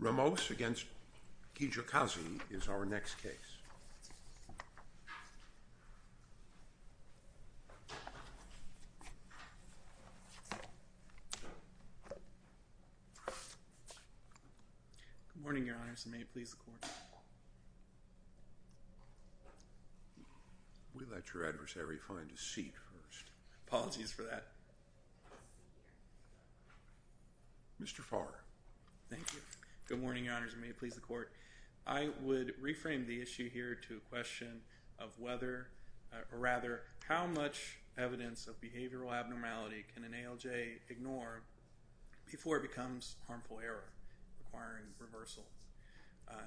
Ramos v. Kijakazi is our next case. Good morning, Your Honors, and may it please the Court. We let your adversary find a seat first. Apologies for that. Mr. Farr. Thank you. Good morning, Your Honors, and may it please the Court. I would reframe the issue here to a question of whether, or rather, how much evidence of behavioral abnormality can an ALJ ignore before it becomes harmful error requiring reversal.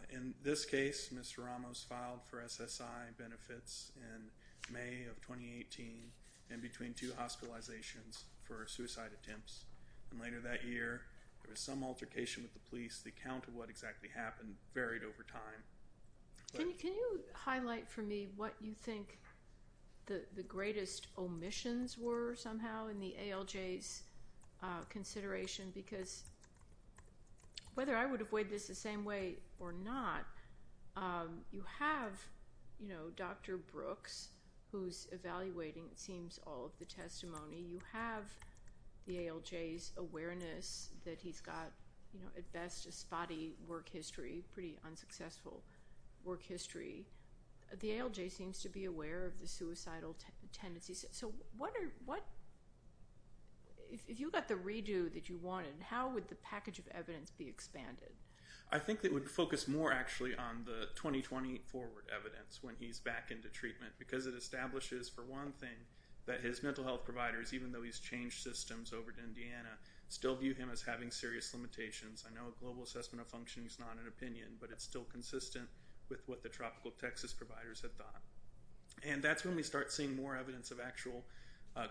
In this case, Mr. Ramos filed for SSI benefits in May of 2018 in between two hospitalizations for suicide attempts. Later that year, there was some altercation with the police. The account of what exactly happened varied over time. Can you highlight for me what you think the greatest omissions were somehow in the ALJ's consideration? Because whether I would avoid this the same way or not, you have Dr. Brooks, who's evaluating, it seems, all of the testimony. You have the ALJ's awareness that he's got, at best, a spotty work history, pretty unsuccessful work history. The ALJ seems to be aware of the suicidal tendencies. So if you got the redo that you wanted, how would the package of evidence be expanded? I think it would focus more, actually, on the 2020 forward evidence when he's back into treatment because it establishes, for one thing, that his mental health providers, even though he's changed systems over to Indiana, still view him as having serious limitations. I know a global assessment of functioning is not an opinion, but it's still consistent with what the tropical Texas providers have done. And that's when we start seeing more evidence of actual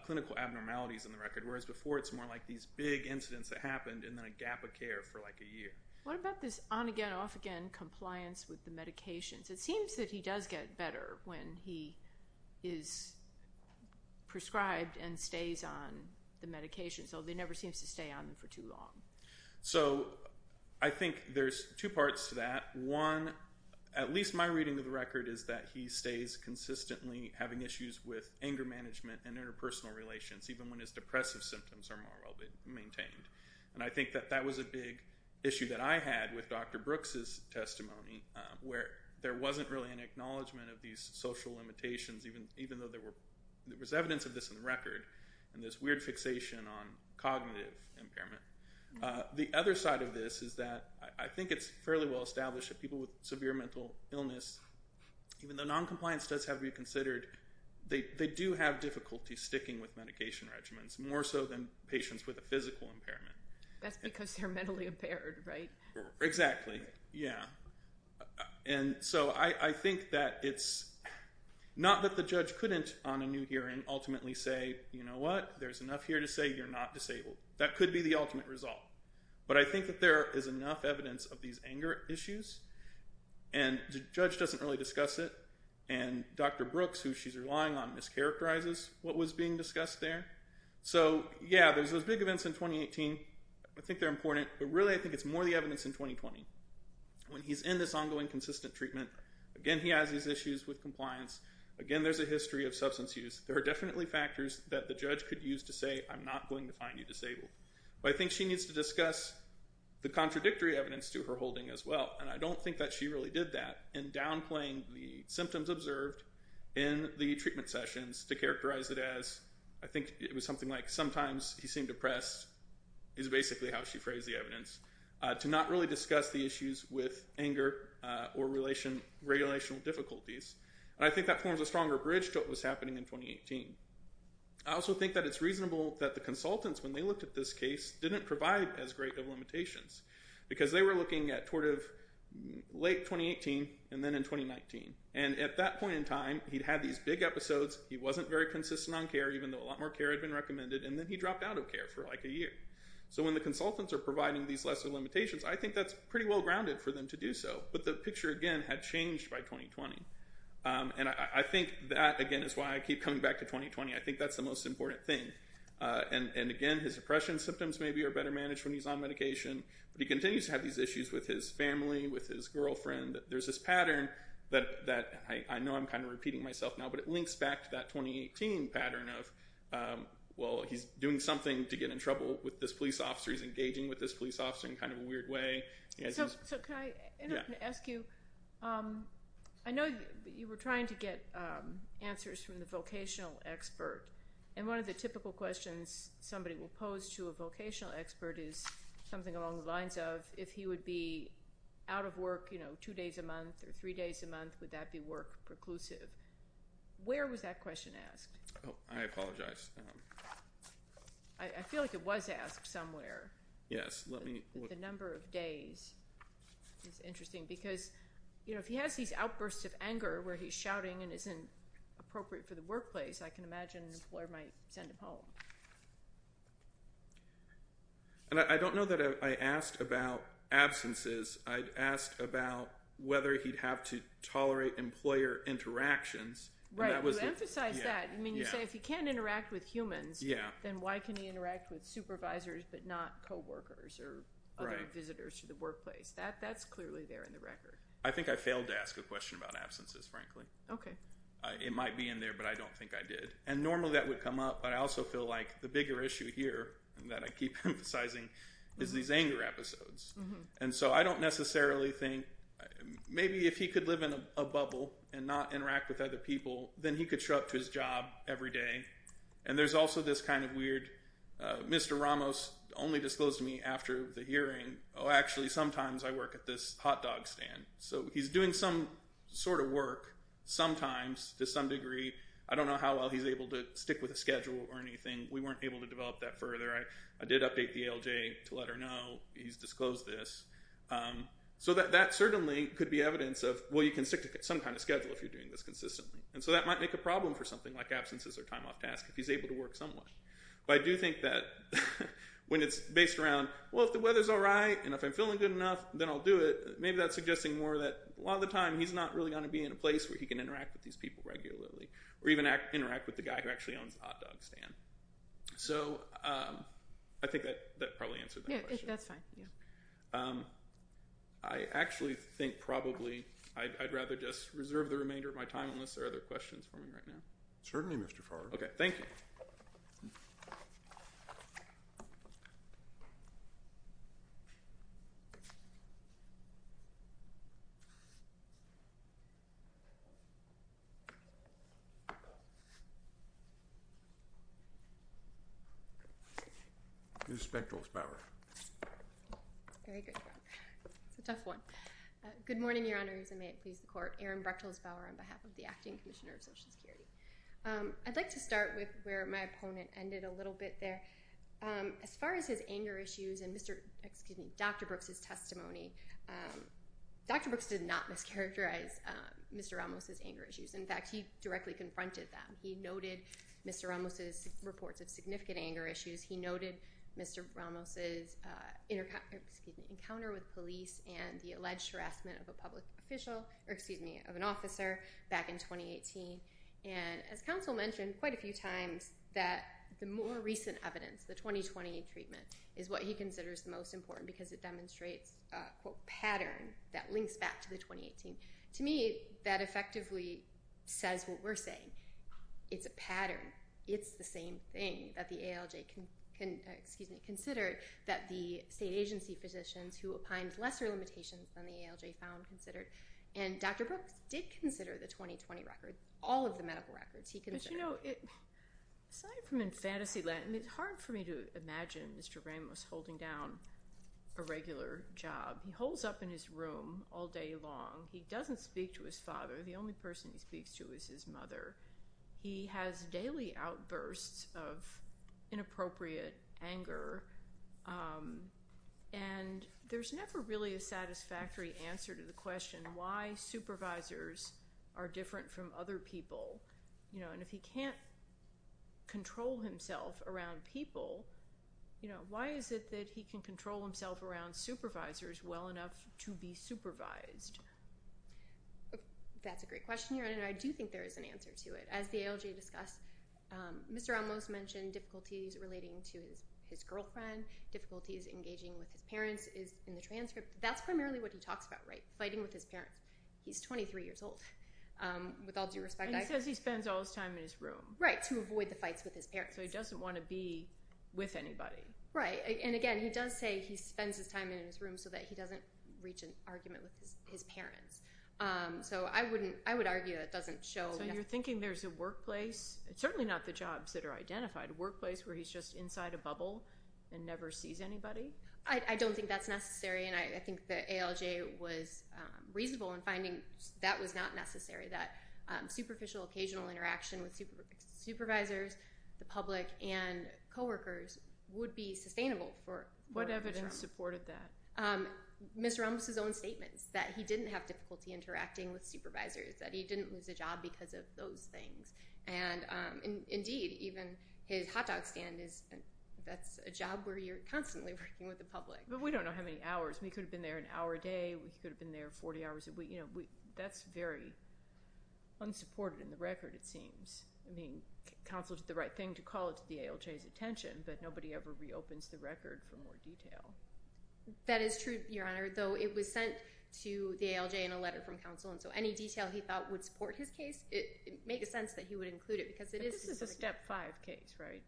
clinical abnormalities in the record, whereas before it's more like these big incidents that happened and then a gap of care for like a year. What about this on-again, off-again compliance with the medications? It seems that he does get better when he is prescribed and stays on the medication, so he never seems to stay on them for too long. So I think there's two parts to that. One, at least my reading of the record, is that he stays consistently having issues with anger management and interpersonal relations, even when his depressive symptoms are more well-maintained. And I think that that was a big issue that I had with Dr. Brooks' testimony, where there wasn't really an acknowledgment of these social limitations, even though there was evidence of this in the record and this weird fixation on cognitive impairment. The other side of this is that I think it's fairly well established that people with severe mental illness, even though noncompliance does have to be considered, they do have difficulty sticking with medication regimens, more so than patients with a physical impairment. That's because they're mentally impaired, right? Exactly, yeah. And so I think that it's not that the judge couldn't, on a new hearing, ultimately say, you know what, there's enough here to say you're not disabled. That could be the ultimate result. But I think that there is enough evidence of these anger issues, and the judge doesn't really discuss it, and Dr. Brooks, who she's relying on, mischaracterizes what was being discussed there. So, yeah, there's those big events in 2018. I think they're important, but really I think it's more the evidence in 2020. When he's in this ongoing consistent treatment, again, he has these issues with compliance. Again, there's a history of substance use. There are definitely factors that the judge could use to say, I'm not going to find you disabled. But I think she needs to discuss the contradictory evidence to her holding as well, and I don't think that she really did that in downplaying the symptoms observed in the treatment sessions to characterize it as, I think it was something like, sometimes he seemed depressed, is basically how she phrased the evidence, to not really discuss the issues with anger or relational difficulties. And I think that forms a stronger bridge to what was happening in 2018. I also think that it's reasonable that the consultants, when they looked at this case, didn't provide as great of limitations, because they were looking at late 2018 and then in 2019. And at that point in time, he'd had these big episodes, he wasn't very consistent on care, even though a lot more care had been recommended, and then he dropped out of care for like a year. So when the consultants are providing these lesser limitations, I think that's pretty well-grounded for them to do so. But the picture, again, had changed by 2020. And I think that, again, is why I keep coming back to 2020. I think that's the most important thing. And again, his depression symptoms maybe are better managed when he's on medication, but he continues to have these issues with his family, with his girlfriend. There's this pattern that I know I'm kind of repeating myself now, but it links back to that 2018 pattern of, well, he's doing something to get in trouble with this police officer, he's engaging with this police officer in kind of a weird way. So can I ask you, I know you were trying to get answers from the vocational expert. And one of the typical questions somebody will pose to a vocational expert is something along the lines of, if he would be out of work, you know, two days a month or three days a month, would that be work-preclusive? Where was that question asked? I apologize. I feel like it was asked somewhere. Yes. The number of days is interesting because, you know, if he has these outbursts of anger where he's shouting and isn't appropriate for the workplace, I can imagine an employer might send him home. And I don't know that I asked about absences. I asked about whether he'd have to tolerate employer interactions. Right. You emphasized that. I mean, you say if he can't interact with humans, then why can he interact with supervisors but not coworkers or other visitors to the workplace? That's clearly there in the record. I think I failed to ask a question about absences, frankly. Okay. It might be in there, but I don't think I did. And normally that would come up, but I also feel like the bigger issue here that I keep emphasizing is these anger episodes. And so I don't necessarily think maybe if he could live in a bubble and not interact with other people, then he could show up to his job every day. And there's also this kind of weird Mr. Ramos only disclosed to me after the hearing, oh, actually, sometimes I work at this hot dog stand. So he's doing some sort of work sometimes to some degree. I don't know how well he's able to stick with a schedule or anything. We weren't able to develop that further. I did update the ALJ to let her know he's disclosed this. So that certainly could be evidence of, well, you can stick to some kind of schedule if you're doing this consistently. And so that might make a problem for something like absences or time off task if he's able to work somewhat. But I do think that when it's based around, well, if the weather's all right and if I'm feeling good enough, then I'll do it, maybe that's suggesting more that a lot of the time he's not really going to be in a place where he can interact with these people regularly or even interact with the guy who actually owns the hot dog stand. So I think that probably answered that question. Yeah, that's fine. I actually think probably I'd rather just reserve the remainder of my time unless there are other questions for me right now. Certainly, Mr. Farr. Okay, thank you. Ms. Spechtelsbauer. Very good. It's a tough one. Good morning, Your Honors, and may it please the Court. Erin Brechtelsbauer on behalf of the Acting Commissioner of Social Security. I'd like to start with where my opponent ended a little bit there. As far as his anger issues and Dr. Brooks' testimony, Dr. Brooks did not mischaracterize Mr. Ramos' anger issues. In fact, he directly confronted them. He noted Mr. Ramos' reports of significant anger issues. He noted Mr. Ramos' encounter with police and the alleged harassment of an officer back in 2018. And as counsel mentioned quite a few times that the more recent evidence, the 2020 treatment, is what he considers the most important because it demonstrates a, quote, pattern that links back to the 2018. To me, that effectively says what we're saying. It's a pattern. It's the same thing that the ALJ considered that the state agency physicians who opined lesser limitations than the ALJ found considered. And Dr. Brooks did consider the 2020 record, all of the medical records he considered. But, you know, aside from in fantasy land, I mean, it's hard for me to imagine Mr. Ramos holding down a regular job. He holds up in his room all day long. He doesn't speak to his father. The only person he speaks to is his mother. He has daily outbursts of inappropriate anger. And there's never really a satisfactory answer to the question why supervisors are different from other people. You know, and if he can't control himself around people, you know, why is it that he can control himself around supervisors well enough to be supervised? That's a great question. And I do think there is an answer to it. As the ALJ discussed, Mr. Ramos mentioned difficulties relating to his girlfriend, difficulties engaging with his parents is in the transcript. That's primarily what he talks about, right, fighting with his parents. He's 23 years old, with all due respect. And he says he spends all his time in his room. Right, to avoid the fights with his parents. So he doesn't want to be with anybody. Right. And, again, he does say he spends his time in his room so that he doesn't reach an argument with his parents. So I would argue that doesn't show. So you're thinking there's a workplace, certainly not the jobs that are identified, a workplace where he's just inside a bubble and never sees anybody? I don't think that's necessary. And I think the ALJ was reasonable in finding that was not necessary, that superficial, occasional interaction with supervisors, the public, and coworkers would be sustainable for Mr. Ramos. What evidence supported that? Mr. Ramos' own statements that he didn't have difficulty interacting with supervisors, that he didn't lose a job because of those things. And, indeed, even his hot dog stand, that's a job where you're constantly working with the public. But we don't know how many hours. We could have been there an hour a day. We could have been there 40 hours a week. That's very unsupported in the record, it seems. I mean, counsel did the right thing to call it to the ALJ's attention, but nobody ever reopens the record for more detail. That is true, Your Honor, though it was sent to the ALJ in a letter from counsel, and so any detail he thought would support his case, it made sense that he would include it. But this is a Step 5 case, right?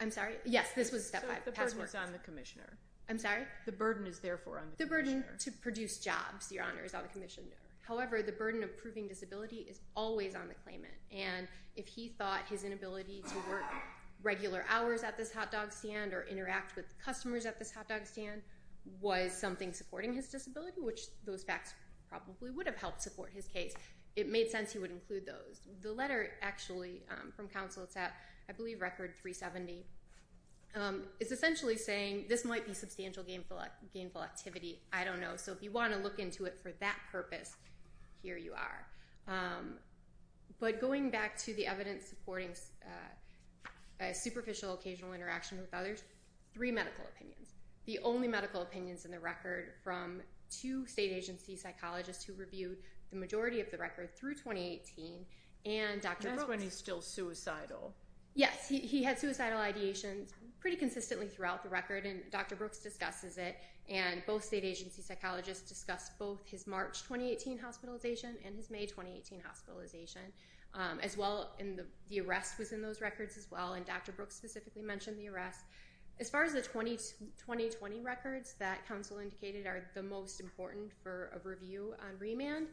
I'm sorry? Yes, this was a Step 5. So the burden is on the commissioner. I'm sorry? The burden is, therefore, on the commissioner. The burden to produce jobs, Your Honor, is on the commissioner. However, the burden of proving disability is always on the claimant. And if he thought his inability to work regular hours at this hot dog stand or interact with customers at this hot dog stand was something supporting his disability, which those facts probably would have helped support his case, it made sense he would include those. The letter, actually, from counsel, it's at, I believe, record 370. It's essentially saying this might be substantial gainful activity. I don't know. So if you want to look into it for that purpose, here you are. But going back to the evidence supporting a superficial occasional interaction with others, three medical opinions. The only medical opinions in the record from two state agency psychologists who reviewed the majority of the record through 2018 and Dr. Brooks. And that's when he's still suicidal. Yes, he had suicidal ideations pretty consistently throughout the record, and Dr. Brooks discusses it. And both state agency psychologists discussed both his March 2018 hospitalization and his May 2018 hospitalization as well. And the arrest was in those records as well, and Dr. Brooks specifically mentioned the arrest. As far as the 2020 records that counsel indicated are the most important for review on remand,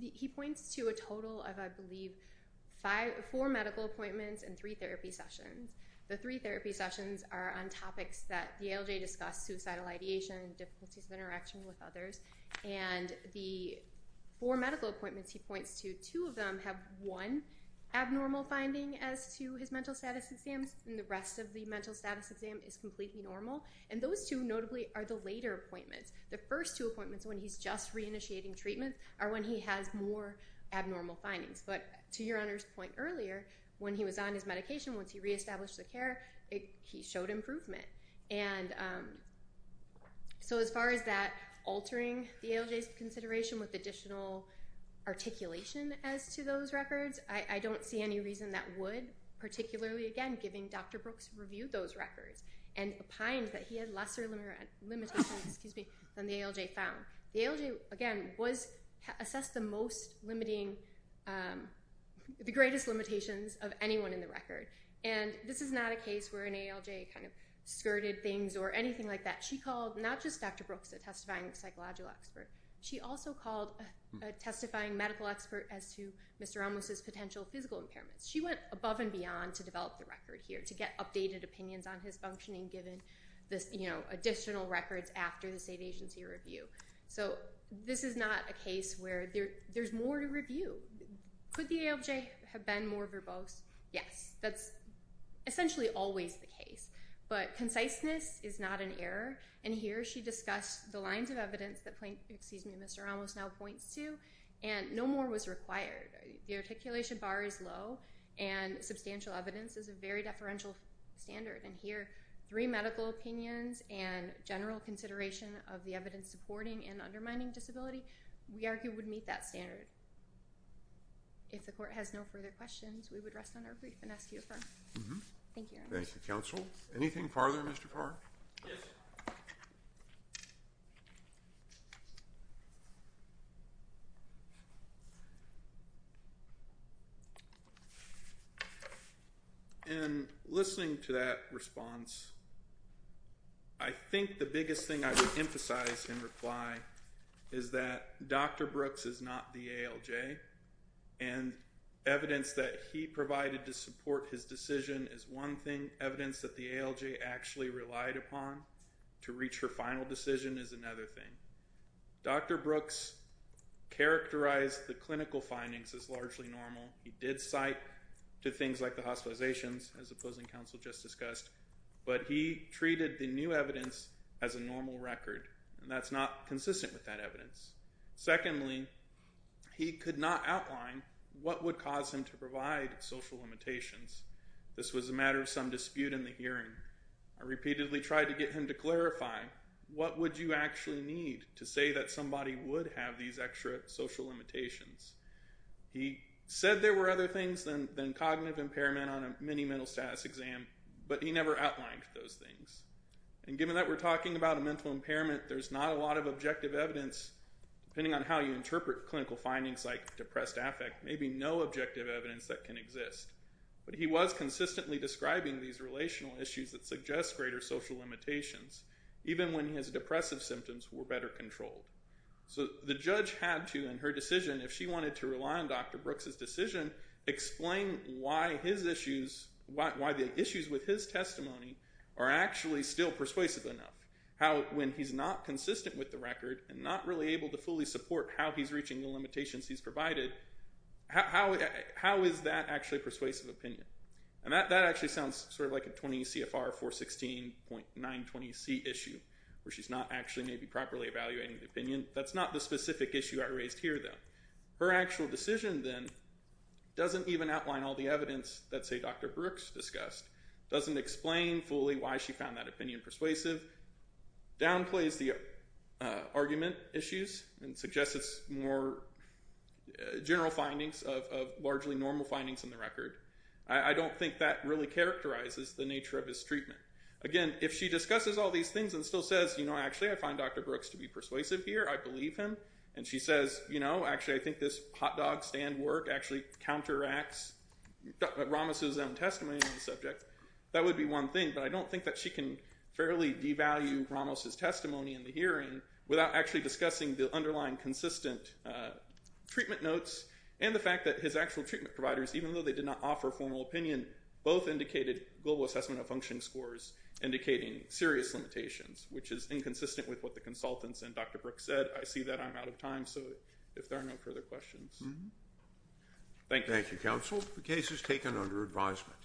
he points to a total of, I believe, four medical appointments and three therapy sessions. The three therapy sessions are on topics that the ALJ discussed, suicidal ideation, difficulties of interaction with others, and the four medical appointments he points to, two of them have one abnormal finding as to his mental status exams, and the rest of the mental status exam is completely normal. And those two, notably, are the later appointments. The first two appointments when he's just reinitiating treatment are when he has more abnormal findings. But to your Honor's point earlier, when he was on his medication, once he reestablished the care, he showed improvement. And so as far as that altering the ALJ's consideration with additional articulation as to those records, I don't see any reason that would, particularly, again, giving Dr. Brooks review those records and opined that he had lesser limitations than the ALJ found. The ALJ, again, assessed the most limiting, the greatest limitations of anyone in the record. And this is not a case where an ALJ kind of skirted things or anything like that. She called not just Dr. Brooks, a testifying psychological expert, she also called a testifying medical expert as to Mr. Amos's potential physical impairments. She went above and beyond to develop the record here to get updated opinions on his functioning given the additional records after the state agency review. So this is not a case where there's more to review. Could the ALJ have been more verbose? Yes, that's essentially always the case. But conciseness is not an error. And here she discussed the lines of evidence that Mr. Amos now points to, and no more was required. The articulation bar is low, and substantial evidence is a very deferential standard. And here, three medical opinions and general consideration of the evidence supporting and undermining disability, we argue, would meet that standard. If the court has no further questions, we would rest on our brief and ask you to affirm. Thank you very much. Thank you, counsel. Anything further, Mr. Carr? Yes, sir. In listening to that response, I think the biggest thing I would emphasize and reply is that Dr. Brooks is not the ALJ. And evidence that he provided to support his decision is one thing. Evidence that the ALJ actually relied upon to reach her final decision is another thing. Dr. Brooks characterized the clinical findings as largely normal. He did cite to things like the hospitalizations, as the opposing counsel just discussed. But he treated the new evidence as a normal record. And that's not consistent with that evidence. Secondly, he could not outline what would cause him to provide social limitations. This was a matter of some dispute in the hearing. I repeatedly tried to get him to clarify, what would you actually need to say that somebody would have these extra social limitations? He said there were other things than cognitive impairment on a mini mental status exam, but he never outlined those things. And given that we're talking about a mental impairment, there's not a lot of objective evidence, depending on how you interpret clinical findings like depressed affect, maybe no objective evidence that can exist. But he was consistently describing these relational issues that suggest greater social limitations, even when his depressive symptoms were better controlled. So the judge had to, in her decision, if she wanted to rely on Dr. Brooks' decision, explain why the issues with his testimony are actually still persuasive enough. How, when he's not consistent with the record, and not really able to fully support how he's reaching the limitations he's provided, how is that actually persuasive opinion? And that actually sounds sort of like a 20 CFR 416.920C issue, where she's not actually maybe properly evaluating the opinion. That's not the specific issue I raised here, though. Her actual decision, then, doesn't even outline all the evidence that, say, Dr. Brooks discussed, doesn't explain fully why she found that opinion persuasive, downplays the argument issues, and suggests it's more general findings of largely normal findings in the record. I don't think that really characterizes the nature of his treatment. Again, if she discusses all these things and still says, you know, actually I find Dr. Brooks to be persuasive here, I believe him, and she says, you know, actually I think this hot dog stand work actually counteracts Ramos's own testimony on the subject, that would be one thing. But I don't think that she can fairly devalue Ramos's testimony in the hearing without actually discussing the underlying consistent treatment notes and the fact that his actual treatment providers, even though they did not offer formal opinion, both indicated global assessment of functioning scores, indicating serious limitations, which is inconsistent with what the consultants and Dr. Brooks said. I see that I'm out of time, so if there are no further questions. Thank you. Thank you, counsel. The case is taken under advisement.